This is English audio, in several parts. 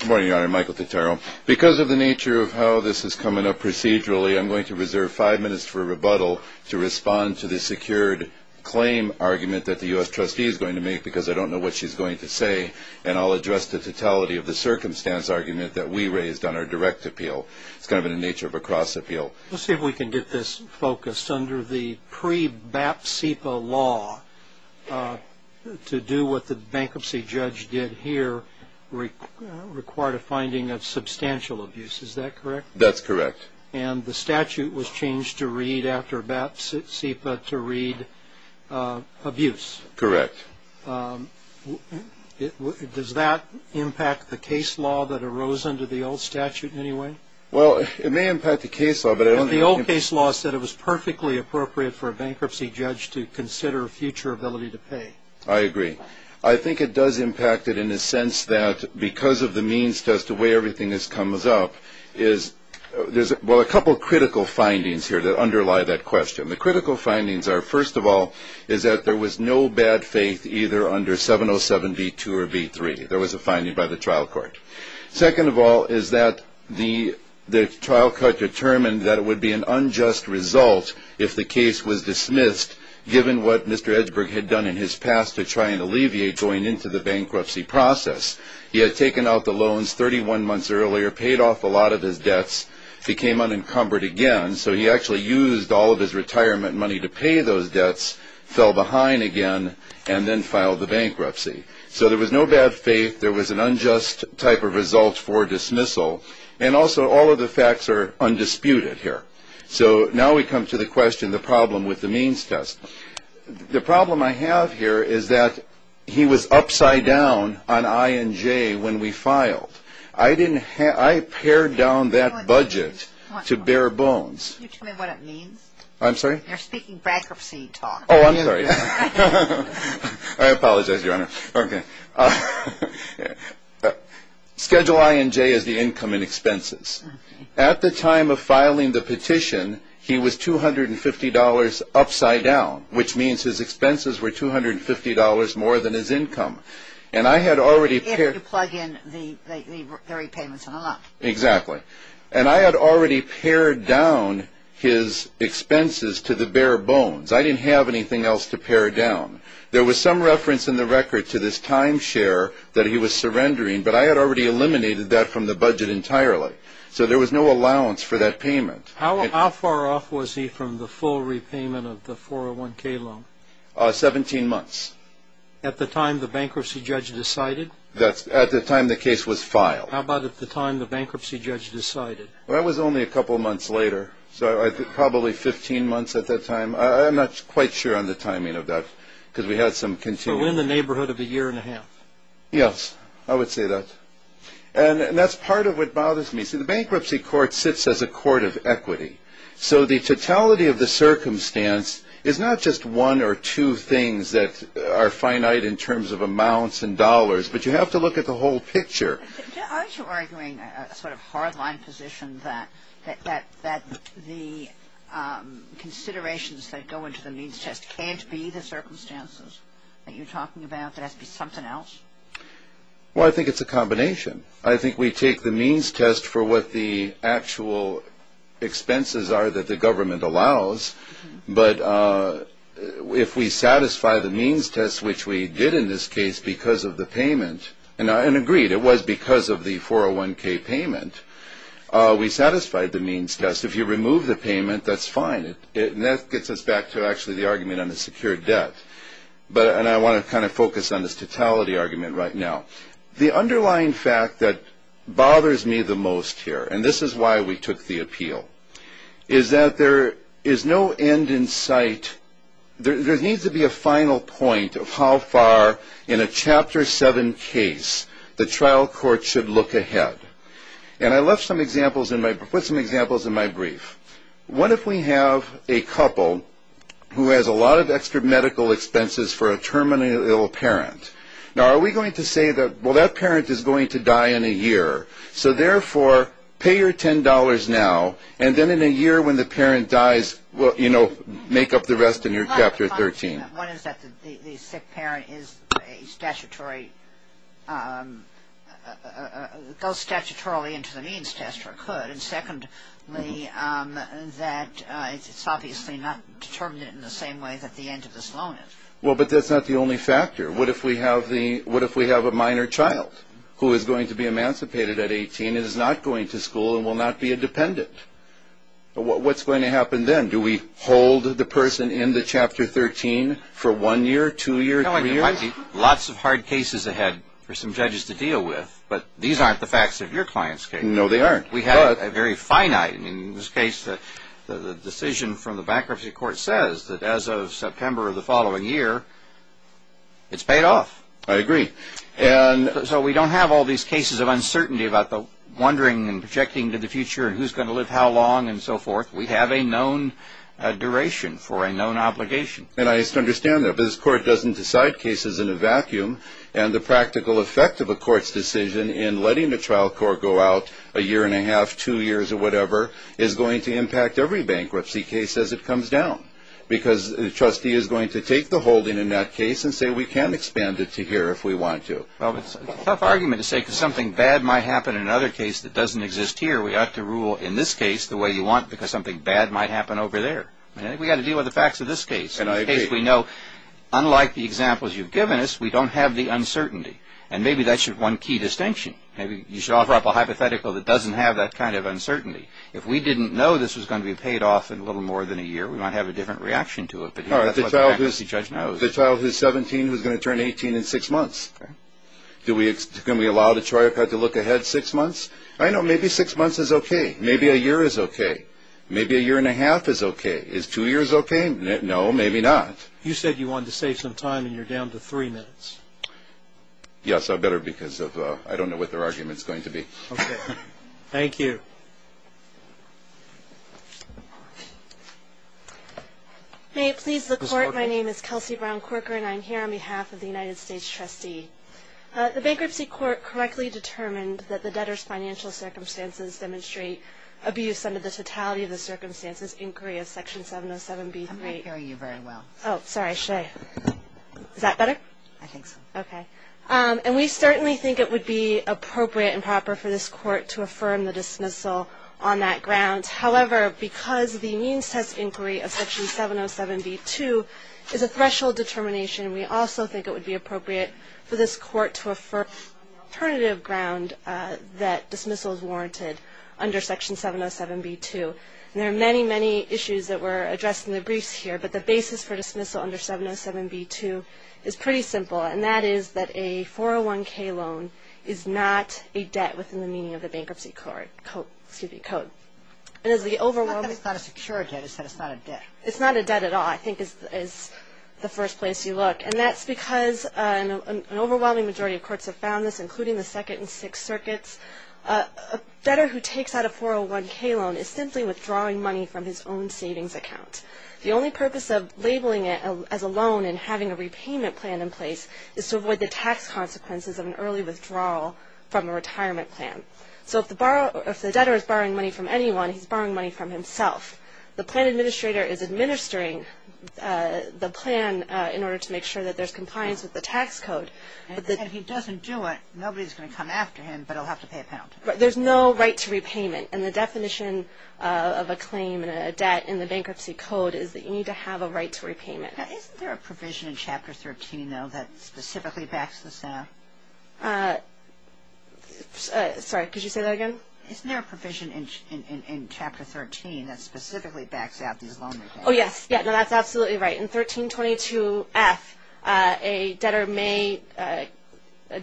Good morning, Your Honor. Michael Tutero. Because of the nature of how this is coming up procedurally, I'm going to reserve five minutes for a rebuttal to respond to the secured claim argument that the U.S. trustee is going to make because I don't know what she's going to say. And I'll address the totality of the circumstance argument that we raised on our direct appeal. It's kind of in the nature of a cross appeal. Let's see if we can get this focused. Under the pre-Bap-Sepa law, to do what the bankruptcy judge did here required a finding of substantial abuse. Is that correct? That's correct. And the statute was changed to read after Bap-Sepa to read abuse. Correct. Does that impact the case law that arose under the old statute in any way? Well, it may impact the case law. And the old case law said it was perfectly appropriate for a bankruptcy judge to consider future ability to pay. I agree. I think it does impact it in the sense that because of the means to weigh everything that comes up, there's a couple of critical findings here that underlie that question. The critical findings are, first of all, is that there was no bad faith either under 707B2 or B3. There was a finding by the trial court. Second of all is that the trial court determined that it would be an unjust result if the case was dismissed given what Mr. Edberg had done in his past to try and alleviate going into the bankruptcy process. He had taken out the loans 31 months earlier, paid off a lot of his debts, became unencumbered again. So he actually used all of his retirement money to pay those debts, fell behind again, and then filed the bankruptcy. So there was no bad faith. There was an unjust type of result for dismissal. And also all of the facts are undisputed here. So now we come to the question, the problem with the means test. The problem I have here is that he was upside down on I and J when we filed. I didn't have – I pared down that budget to bare bones. Can you tell me what it means? I'm sorry? You're speaking bankruptcy talk. Oh, I'm sorry. I apologize, Your Honor. Schedule I and J is the income and expenses. At the time of filing the petition, he was $250 upside down, which means his expenses were $250 more than his income. And I had already – If you plug in the repayments on a lot. Exactly. And I had already pared down his expenses to the bare bones. I didn't have anything else to pare down. There was some reference in the record to this timeshare that he was surrendering, but I had already eliminated that from the budget entirely. So there was no allowance for that payment. How far off was he from the full repayment of the 401K loan? 17 months. At the time the bankruptcy judge decided? At the time the case was filed. How about at the time the bankruptcy judge decided? Well, that was only a couple months later, so probably 15 months at that time. I'm not quite sure on the timing of that because we had some continuum. You were in the neighborhood of a year and a half. Yes, I would say that. And that's part of what bothers me. See, the bankruptcy court sits as a court of equity, so the totality of the circumstance is not just one or two things that are finite in terms of amounts and dollars, but you have to look at the whole picture. Aren't you arguing a sort of hard-line position that the considerations that go into the means test can't be the circumstances that you're talking about, that it has to be something else? Well, I think it's a combination. I think we take the means test for what the actual expenses are that the government allows, but if we satisfy the means test, which we did in this case because of the payment, and agreed it was because of the 401K payment, we satisfied the means test. If you remove the payment, that's fine. That gets us back to actually the argument on the secured debt, and I want to kind of focus on this totality argument right now. The underlying fact that bothers me the most here, and this is why we took the appeal, is that there is no end in sight. There needs to be a final point of how far in a Chapter 7 case the trial court should look ahead, and I put some examples in my brief. What if we have a couple who has a lot of extra medical expenses for a terminally ill parent? Now, are we going to say that, well, that parent is going to die in a year, So, therefore, pay your $10 now, and then in a year when the parent dies, well, you know, make up the rest in your Chapter 13. One is that the sick parent is a statutory goes statutorily into the means test or could, and secondly, that it's obviously not determined in the same way that the end of this loan is. Well, but that's not the only factor. What if we have a minor child who is going to be emancipated at 18, is not going to school, and will not be a dependent? What's going to happen then? Do we hold the person in the Chapter 13 for one year, two years, three years? Lots of hard cases ahead for some judges to deal with, but these aren't the facts of your client's case. No, they aren't. We have a very finite, in this case, the decision from the bankruptcy court says that as of September of the following year, it's paid off. I agree. So we don't have all these cases of uncertainty about the wondering and projecting to the future and who's going to live how long and so forth. We have a known duration for a known obligation. And I understand that, but this court doesn't decide cases in a vacuum, and the practical effect of a court's decision in letting the trial court go out a year and a half, two years, or whatever, is going to impact every bankruptcy case as it comes down. Because the trustee is going to take the holding in that case and say, we can expand it to here if we want to. Well, it's a tough argument to say because something bad might happen in another case that doesn't exist here. We ought to rule, in this case, the way you want because something bad might happen over there. We've got to deal with the facts of this case. In this case, we know, unlike the examples you've given us, we don't have the uncertainty. And maybe that's one key distinction. You should offer up a hypothetical that doesn't have that kind of uncertainty. If we didn't know this was going to be paid off in a little more than a year, we might have a different reaction to it. All right. The child who's 17 who's going to turn 18 in six months. Okay. Can we allow the trial court to look ahead six months? I know maybe six months is okay. Maybe a year is okay. Maybe a year and a half is okay. Is two years okay? No, maybe not. You said you wanted to save some time, and you're down to three minutes. Yes, I'd better because I don't know what their argument is going to be. Okay. Thank you. May it please the Court, my name is Kelsey Brown Corker, and I'm here on behalf of the United States trustee. The Bankruptcy Court correctly determined that the debtor's financial circumstances demonstrate abuse under the totality of the circumstances inquiry of Section 707B3. I'm not hearing you very well. Oh, sorry. Is that better? I think so. Okay. And we certainly think it would be appropriate and proper for this Court to affirm the dismissal on that ground. However, because the means test inquiry of Section 707B2 is a threshold determination, we also think it would be appropriate for this Court to affirm on the alternative ground that dismissal is warranted under Section 707B2. And there are many, many issues that were addressed in the briefs here, but the basis for dismissal under 707B2 is pretty simple, and that is that a 401k loan is not a debt within the meaning of the Bankruptcy Code. It's not a secure debt. It's not a debt. It's not a debt at all, I think, is the first place you look. And that's because an overwhelming majority of courts have found this, including the Second and Sixth Circuits. A debtor who takes out a 401k loan is simply withdrawing money from his own savings account. The only purpose of labeling it as a loan and having a repayment plan in place is to avoid the tax consequences of an early withdrawal from a retirement plan. So if the debtor is borrowing money from anyone, he's borrowing money from himself. The plan administrator is administering the plan in order to make sure that there's compliance with the tax code. And if he doesn't do it, nobody's going to come after him, but he'll have to pay a penalty. There's no right to repayment, and the definition of a claim and a debt in the Bankruptcy Code is that you need to have a right to repayment. Isn't there a provision in Chapter 13, though, that specifically backs this out? Sorry, could you say that again? Isn't there a provision in Chapter 13 that specifically backs out these loan repayments? Oh, yes. Yeah, no, that's absolutely right. In 1322F, a debtor may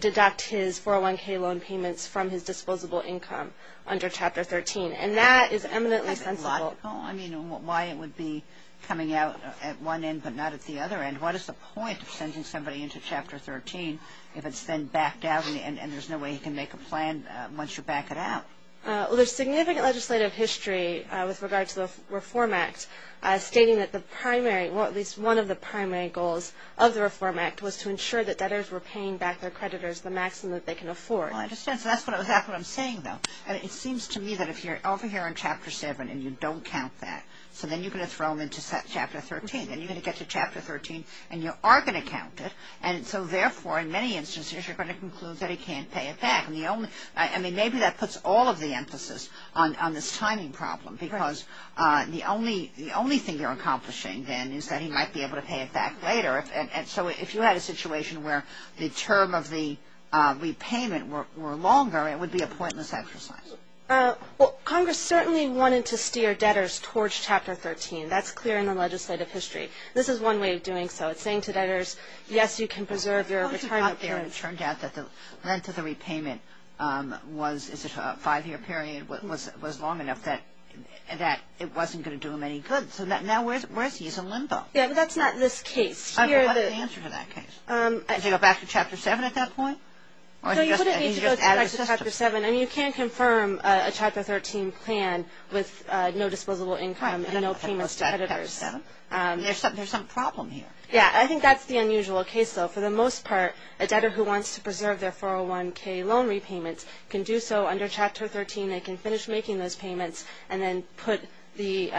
deduct his 401k loan payments from his disposable income under Chapter 13, and that is eminently sensible. I mean, why it would be coming out at one end but not at the other end? What is the point of sending somebody into Chapter 13 if it's then backed out and there's no way he can make a plan once you back it out? Well, there's significant legislative history with regard to the Reform Act stating that the primary, or at least one of the primary goals of the Reform Act, was to ensure that debtors were paying back their creditors the maximum that they can afford. Well, I understand. So that's exactly what I'm saying, though. It seems to me that if you're over here in Chapter 7 and you don't count that, so then you're going to throw them into Chapter 13. Then you're going to get to Chapter 13 and you are going to count it, and so therefore in many instances you're going to conclude that he can't pay it back. I mean, maybe that puts all of the emphasis on this timing problem because the only thing they're accomplishing then is that he might be able to pay it back later. And so if you had a situation where the term of the repayment were longer, it would be a pointless exercise. Well, Congress certainly wanted to steer debtors towards Chapter 13. That's clear in the legislative history. This is one way of doing so. It's saying to debtors, yes, you can preserve your retirement period. But it turned out that the length of the repayment was a five-year period, was long enough that it wasn't going to do them any good. So now where is he? He's in limbo. Yeah, but that's not this case. What's the answer to that case? Does he go back to Chapter 7 at that point? No, you wouldn't need to go back to Chapter 7. I mean, you can confirm a Chapter 13 plan with no disposable income and no payments to creditors. There's some problem here. Yeah, I think that's the unusual case, though. For the most part, a debtor who wants to preserve their 401k loan repayment can do so under Chapter 13. They can finish making those payments and then put the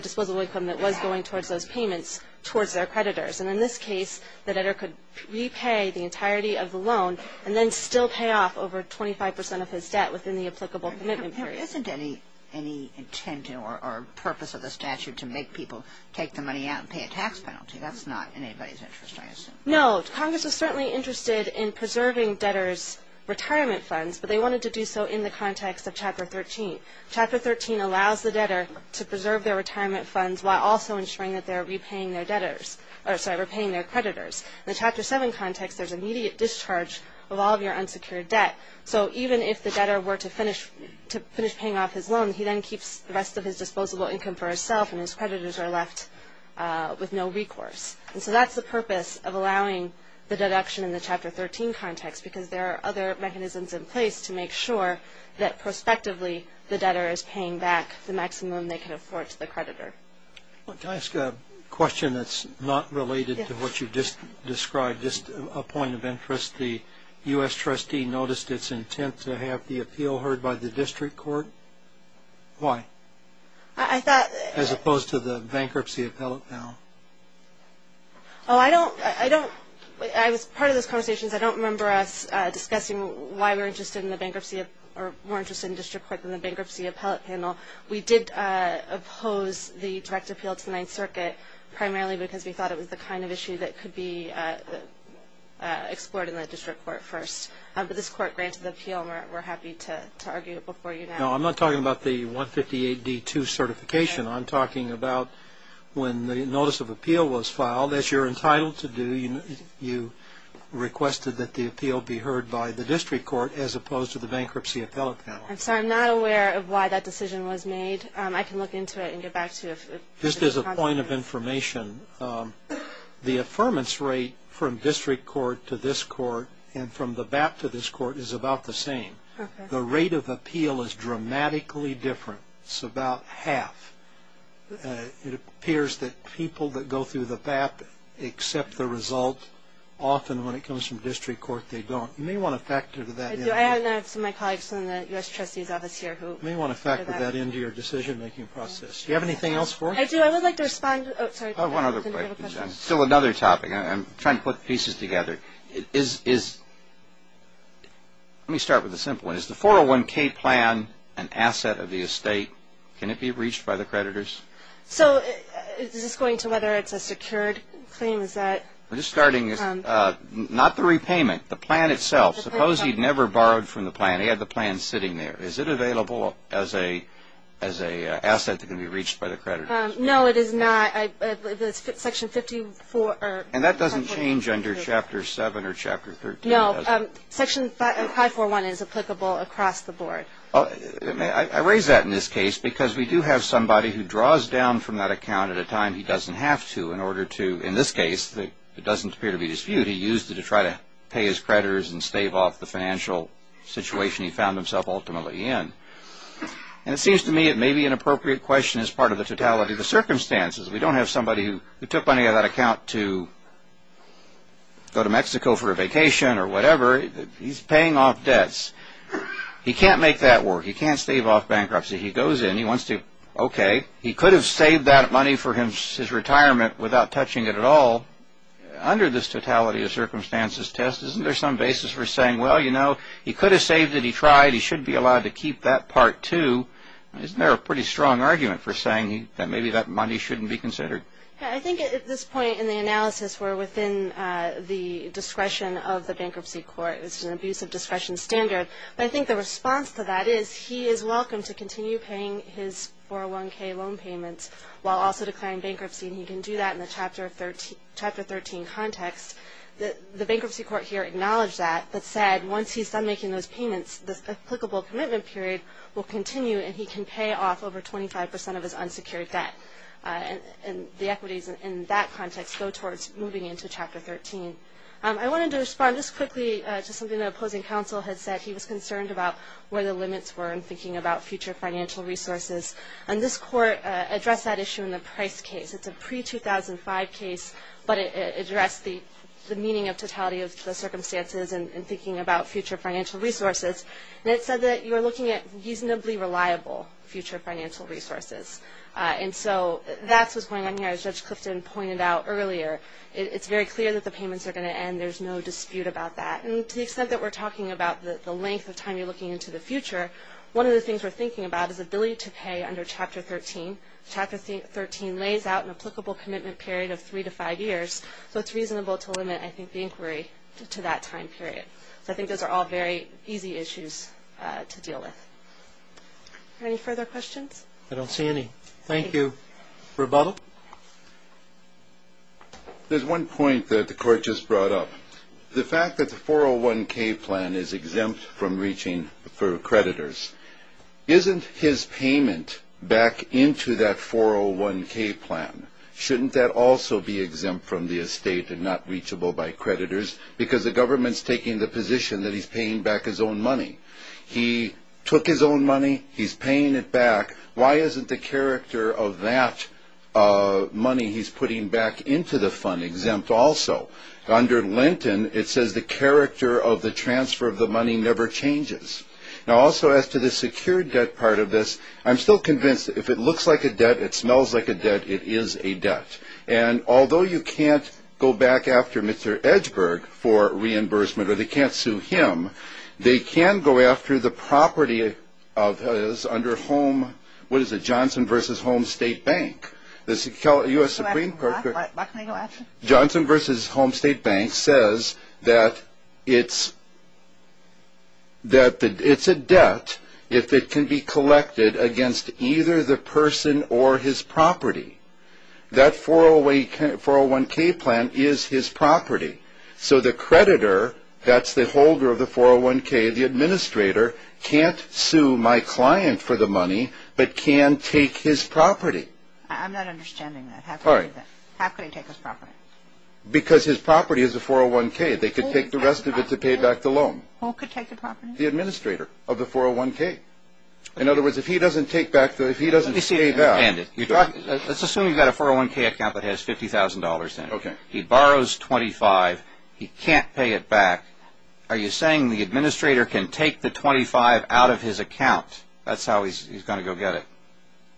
disposable income that was going towards those payments towards their creditors. And in this case, the debtor could repay the entirety of the loan and then still pay off over 25 percent of his debt within the applicable commitment period. Isn't there any intent or purpose of the statute to make people take the money out and pay a tax penalty? That's not in anybody's interest, I assume. No, Congress is certainly interested in preserving debtors' retirement funds, but they wanted to do so in the context of Chapter 13. Chapter 13 allows the debtor to preserve their retirement funds while also ensuring that they're repaying their creditors. In the Chapter 7 context, there's immediate discharge of all of your unsecured debt. So even if the debtor were to finish paying off his loan, he then keeps the rest of his disposable income for himself and his creditors are left with no recourse. So that's the purpose of allowing the deduction in the Chapter 13 context because there are other mechanisms in place to make sure that, prospectively, the debtor is paying back the maximum they can afford to the creditor. Can I ask a question that's not related to what you just described, just a point of interest? The U.S. trustee noticed its intent to have the appeal heard by the district court. Why? As opposed to the bankruptcy appellate panel. Oh, I was part of those conversations. I don't remember us discussing why we're interested in the bankruptcy or more interested in the district court than the bankruptcy appellate panel. We did oppose the direct appeal to the Ninth Circuit primarily because we thought it was the kind of issue that could be explored in the district court first. But this court granted the appeal and we're happy to argue it before you now. No, I'm not talking about the 158D2 certification. I'm talking about when the notice of appeal was filed, as you're entitled to do, you requested that the appeal be heard by the district court as opposed to the bankruptcy appellate panel. I'm sorry, I'm not aware of why that decision was made. I can look into it and get back to you. Just as a point of information, the affirmance rate from district court to this court and from the BAP to this court is about the same. The rate of appeal is dramatically different. It's about half. It appears that people that go through the BAP accept the result. Often when it comes from district court, they don't. You may want to factor that in. I have some of my colleagues in the U.S. trustee's office here. You may want to factor that into your decision-making process. Do you have anything else for us? I do. I would like to respond. I have one other question. Still another topic. I'm trying to put pieces together. Let me start with a simple one. Is the 401K plan an asset of the estate? Can it be reached by the creditors? So is this going to whether it's a secured claim? We're just starting. Not the repayment, the plan itself. Suppose he'd never borrowed from the plan. He had the plan sitting there. Is it available as an asset that can be reached by the creditors? No, it is not. That's Section 54. And that doesn't change under Chapter 7 or Chapter 13, does it? No. Section 541 is applicable across the board. I raise that in this case because we do have somebody who draws down from that account at a time he doesn't have to in order to, in this case, it doesn't appear to be disputed, because he used it to try to pay his creditors and stave off the financial situation he found himself ultimately in. And it seems to me it may be an appropriate question as part of the totality of the circumstances. We don't have somebody who took money out of that account to go to Mexico for a vacation or whatever. He's paying off debts. He can't make that work. He can't stave off bankruptcy. He goes in. He wants to, okay, he could have saved that money for his retirement without touching it at all. Under this totality of circumstances test, isn't there some basis for saying, well, you know, he could have saved it. He tried. He should be allowed to keep that part, too. Isn't there a pretty strong argument for saying that maybe that money shouldn't be considered? I think at this point in the analysis we're within the discretion of the bankruptcy court. It's an abuse of discretion standard. But I think the response to that is he is welcome to continue paying his 401k loan payments while also declaring bankruptcy. And he can do that in the Chapter 13 context. The bankruptcy court here acknowledged that but said once he's done making those payments, the applicable commitment period will continue and he can pay off over 25 percent of his unsecured debt. And the equities in that context go towards moving into Chapter 13. I wanted to respond just quickly to something the opposing counsel had said. He was concerned about where the limits were in thinking about future financial resources. And this court addressed that issue in the price case. It's a pre-2005 case, but it addressed the meaning of totality of the circumstances and thinking about future financial resources. And it said that you're looking at reasonably reliable future financial resources. And so that's what's going on here, as Judge Clifton pointed out earlier. It's very clear that the payments are going to end. There's no dispute about that. And to the extent that we're talking about the length of time you're looking into the future, one of the things we're thinking about is ability to pay under Chapter 13. Chapter 13 lays out an applicable commitment period of three to five years. So it's reasonable to limit, I think, the inquiry to that time period. So I think those are all very easy issues to deal with. Are there any further questions? I don't see any. Thank you. Rebuttal? There's one point that the court just brought up. The fact that the 401K plan is exempt from reaching for creditors, isn't his payment back into that 401K plan? Shouldn't that also be exempt from the estate and not reachable by creditors? Because the government's taking the position that he's paying back his own money. He took his own money. He's paying it back. Why isn't the character of that money he's putting back into the fund exempt also? Under Lenten, it says the character of the transfer of the money never changes. Now, also as to the secured debt part of this, I'm still convinced that if it looks like a debt, it smells like a debt, it is a debt. And although you can't go back after Mr. Edgeburg for reimbursement or they can't sue him, they can go after the property of his under Home, what is it, Johnson v. Home State Bank. The U.S. Supreme Court. Johnson v. Home State Bank says that it's a debt if it can be collected against either the person or his property. That 401K plan is his property. So the creditor, that's the holder of the 401K, the administrator, can't sue my client for the money but can take his property. I'm not understanding that. How could he take his property? Because his property is a 401K. They could take the rest of it to pay back the loan. Who could take the property? The administrator of the 401K. In other words, if he doesn't take back, if he doesn't pay back. Let's assume you've got a 401K account that has $50,000 in it. He borrows $25,000. He can't pay it back. Are you saying the administrator can take the $25,000 out of his account? That's how he's going to go get it?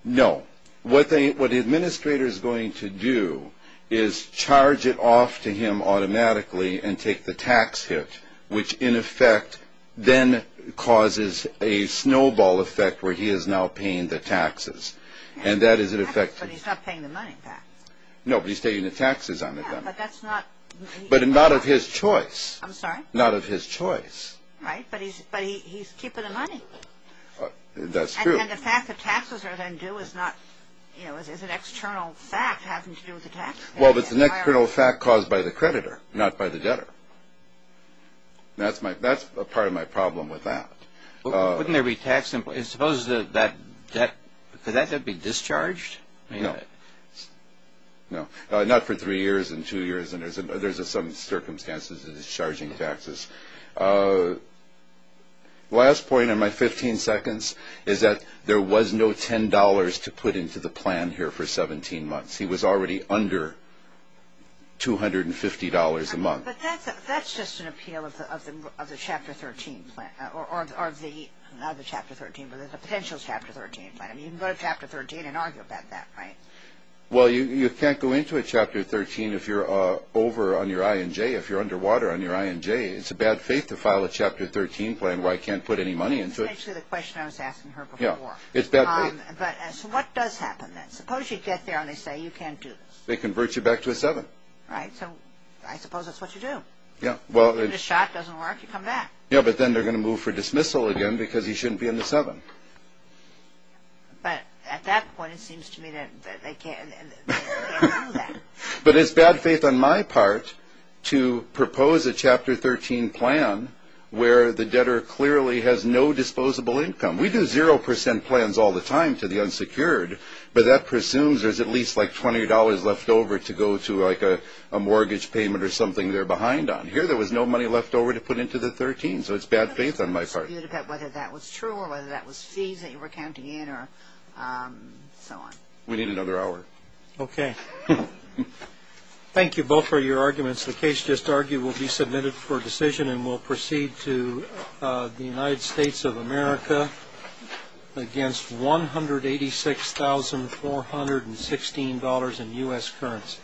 No. What the administrator is going to do is charge it off to him automatically and take the tax hit, which in effect then causes a snowball effect where he is now paying the taxes. But he's not paying the money back. No, but he's taking the taxes on it. But not of his choice. I'm sorry? Not of his choice. Right, but he's keeping the money. That's true. And the fact that taxes are then due is an external fact having to do with the tax debt. Well, but it's an external fact caused by the creditor, not by the debtor. That's a part of my problem with that. Wouldn't there be taxes? Suppose that debt, could that debt be discharged? No. No. Not for three years and two years. There's some circumstances of discharging taxes. Last point in my 15 seconds is that there was no $10 to put into the plan here for 17 months. He was already under $250 a month. But that's just an appeal of the Chapter 13 plan. Not the Chapter 13, but the potential Chapter 13 plan. You can go to Chapter 13 and argue about that, right? Well, you can't go into a Chapter 13 if you're over on your I&J, if you're underwater on your I&J. It's a bad faith to file a Chapter 13 plan where I can't put any money into it. That's actually the question I was asking her before. Yeah, it's bad faith. But so what does happen then? Suppose you get there and they say you can't do this. They convert you back to a 7. Right, so I suppose that's what you do. Yeah, well. If the shot doesn't work, you come back. Yeah, but then they're going to move for dismissal again because he shouldn't be in the 7. But at that point, it seems to me that they can't do that. But it's bad faith on my part to propose a Chapter 13 plan where the debtor clearly has no disposable income. We do 0% plans all the time to the unsecured, but that presumes there's at least, like, $20 left over to go to, like, a mortgage payment or something they're behind on. But here there was no money left over to put into the 13, so it's bad faith on my part. Whether that was true or whether that was fees that you were counting in or so on. We need another hour. Okay. Thank you both for your arguments. The case just argued will be submitted for decision and will proceed to the United States of America against $186,416 in U.S. currents.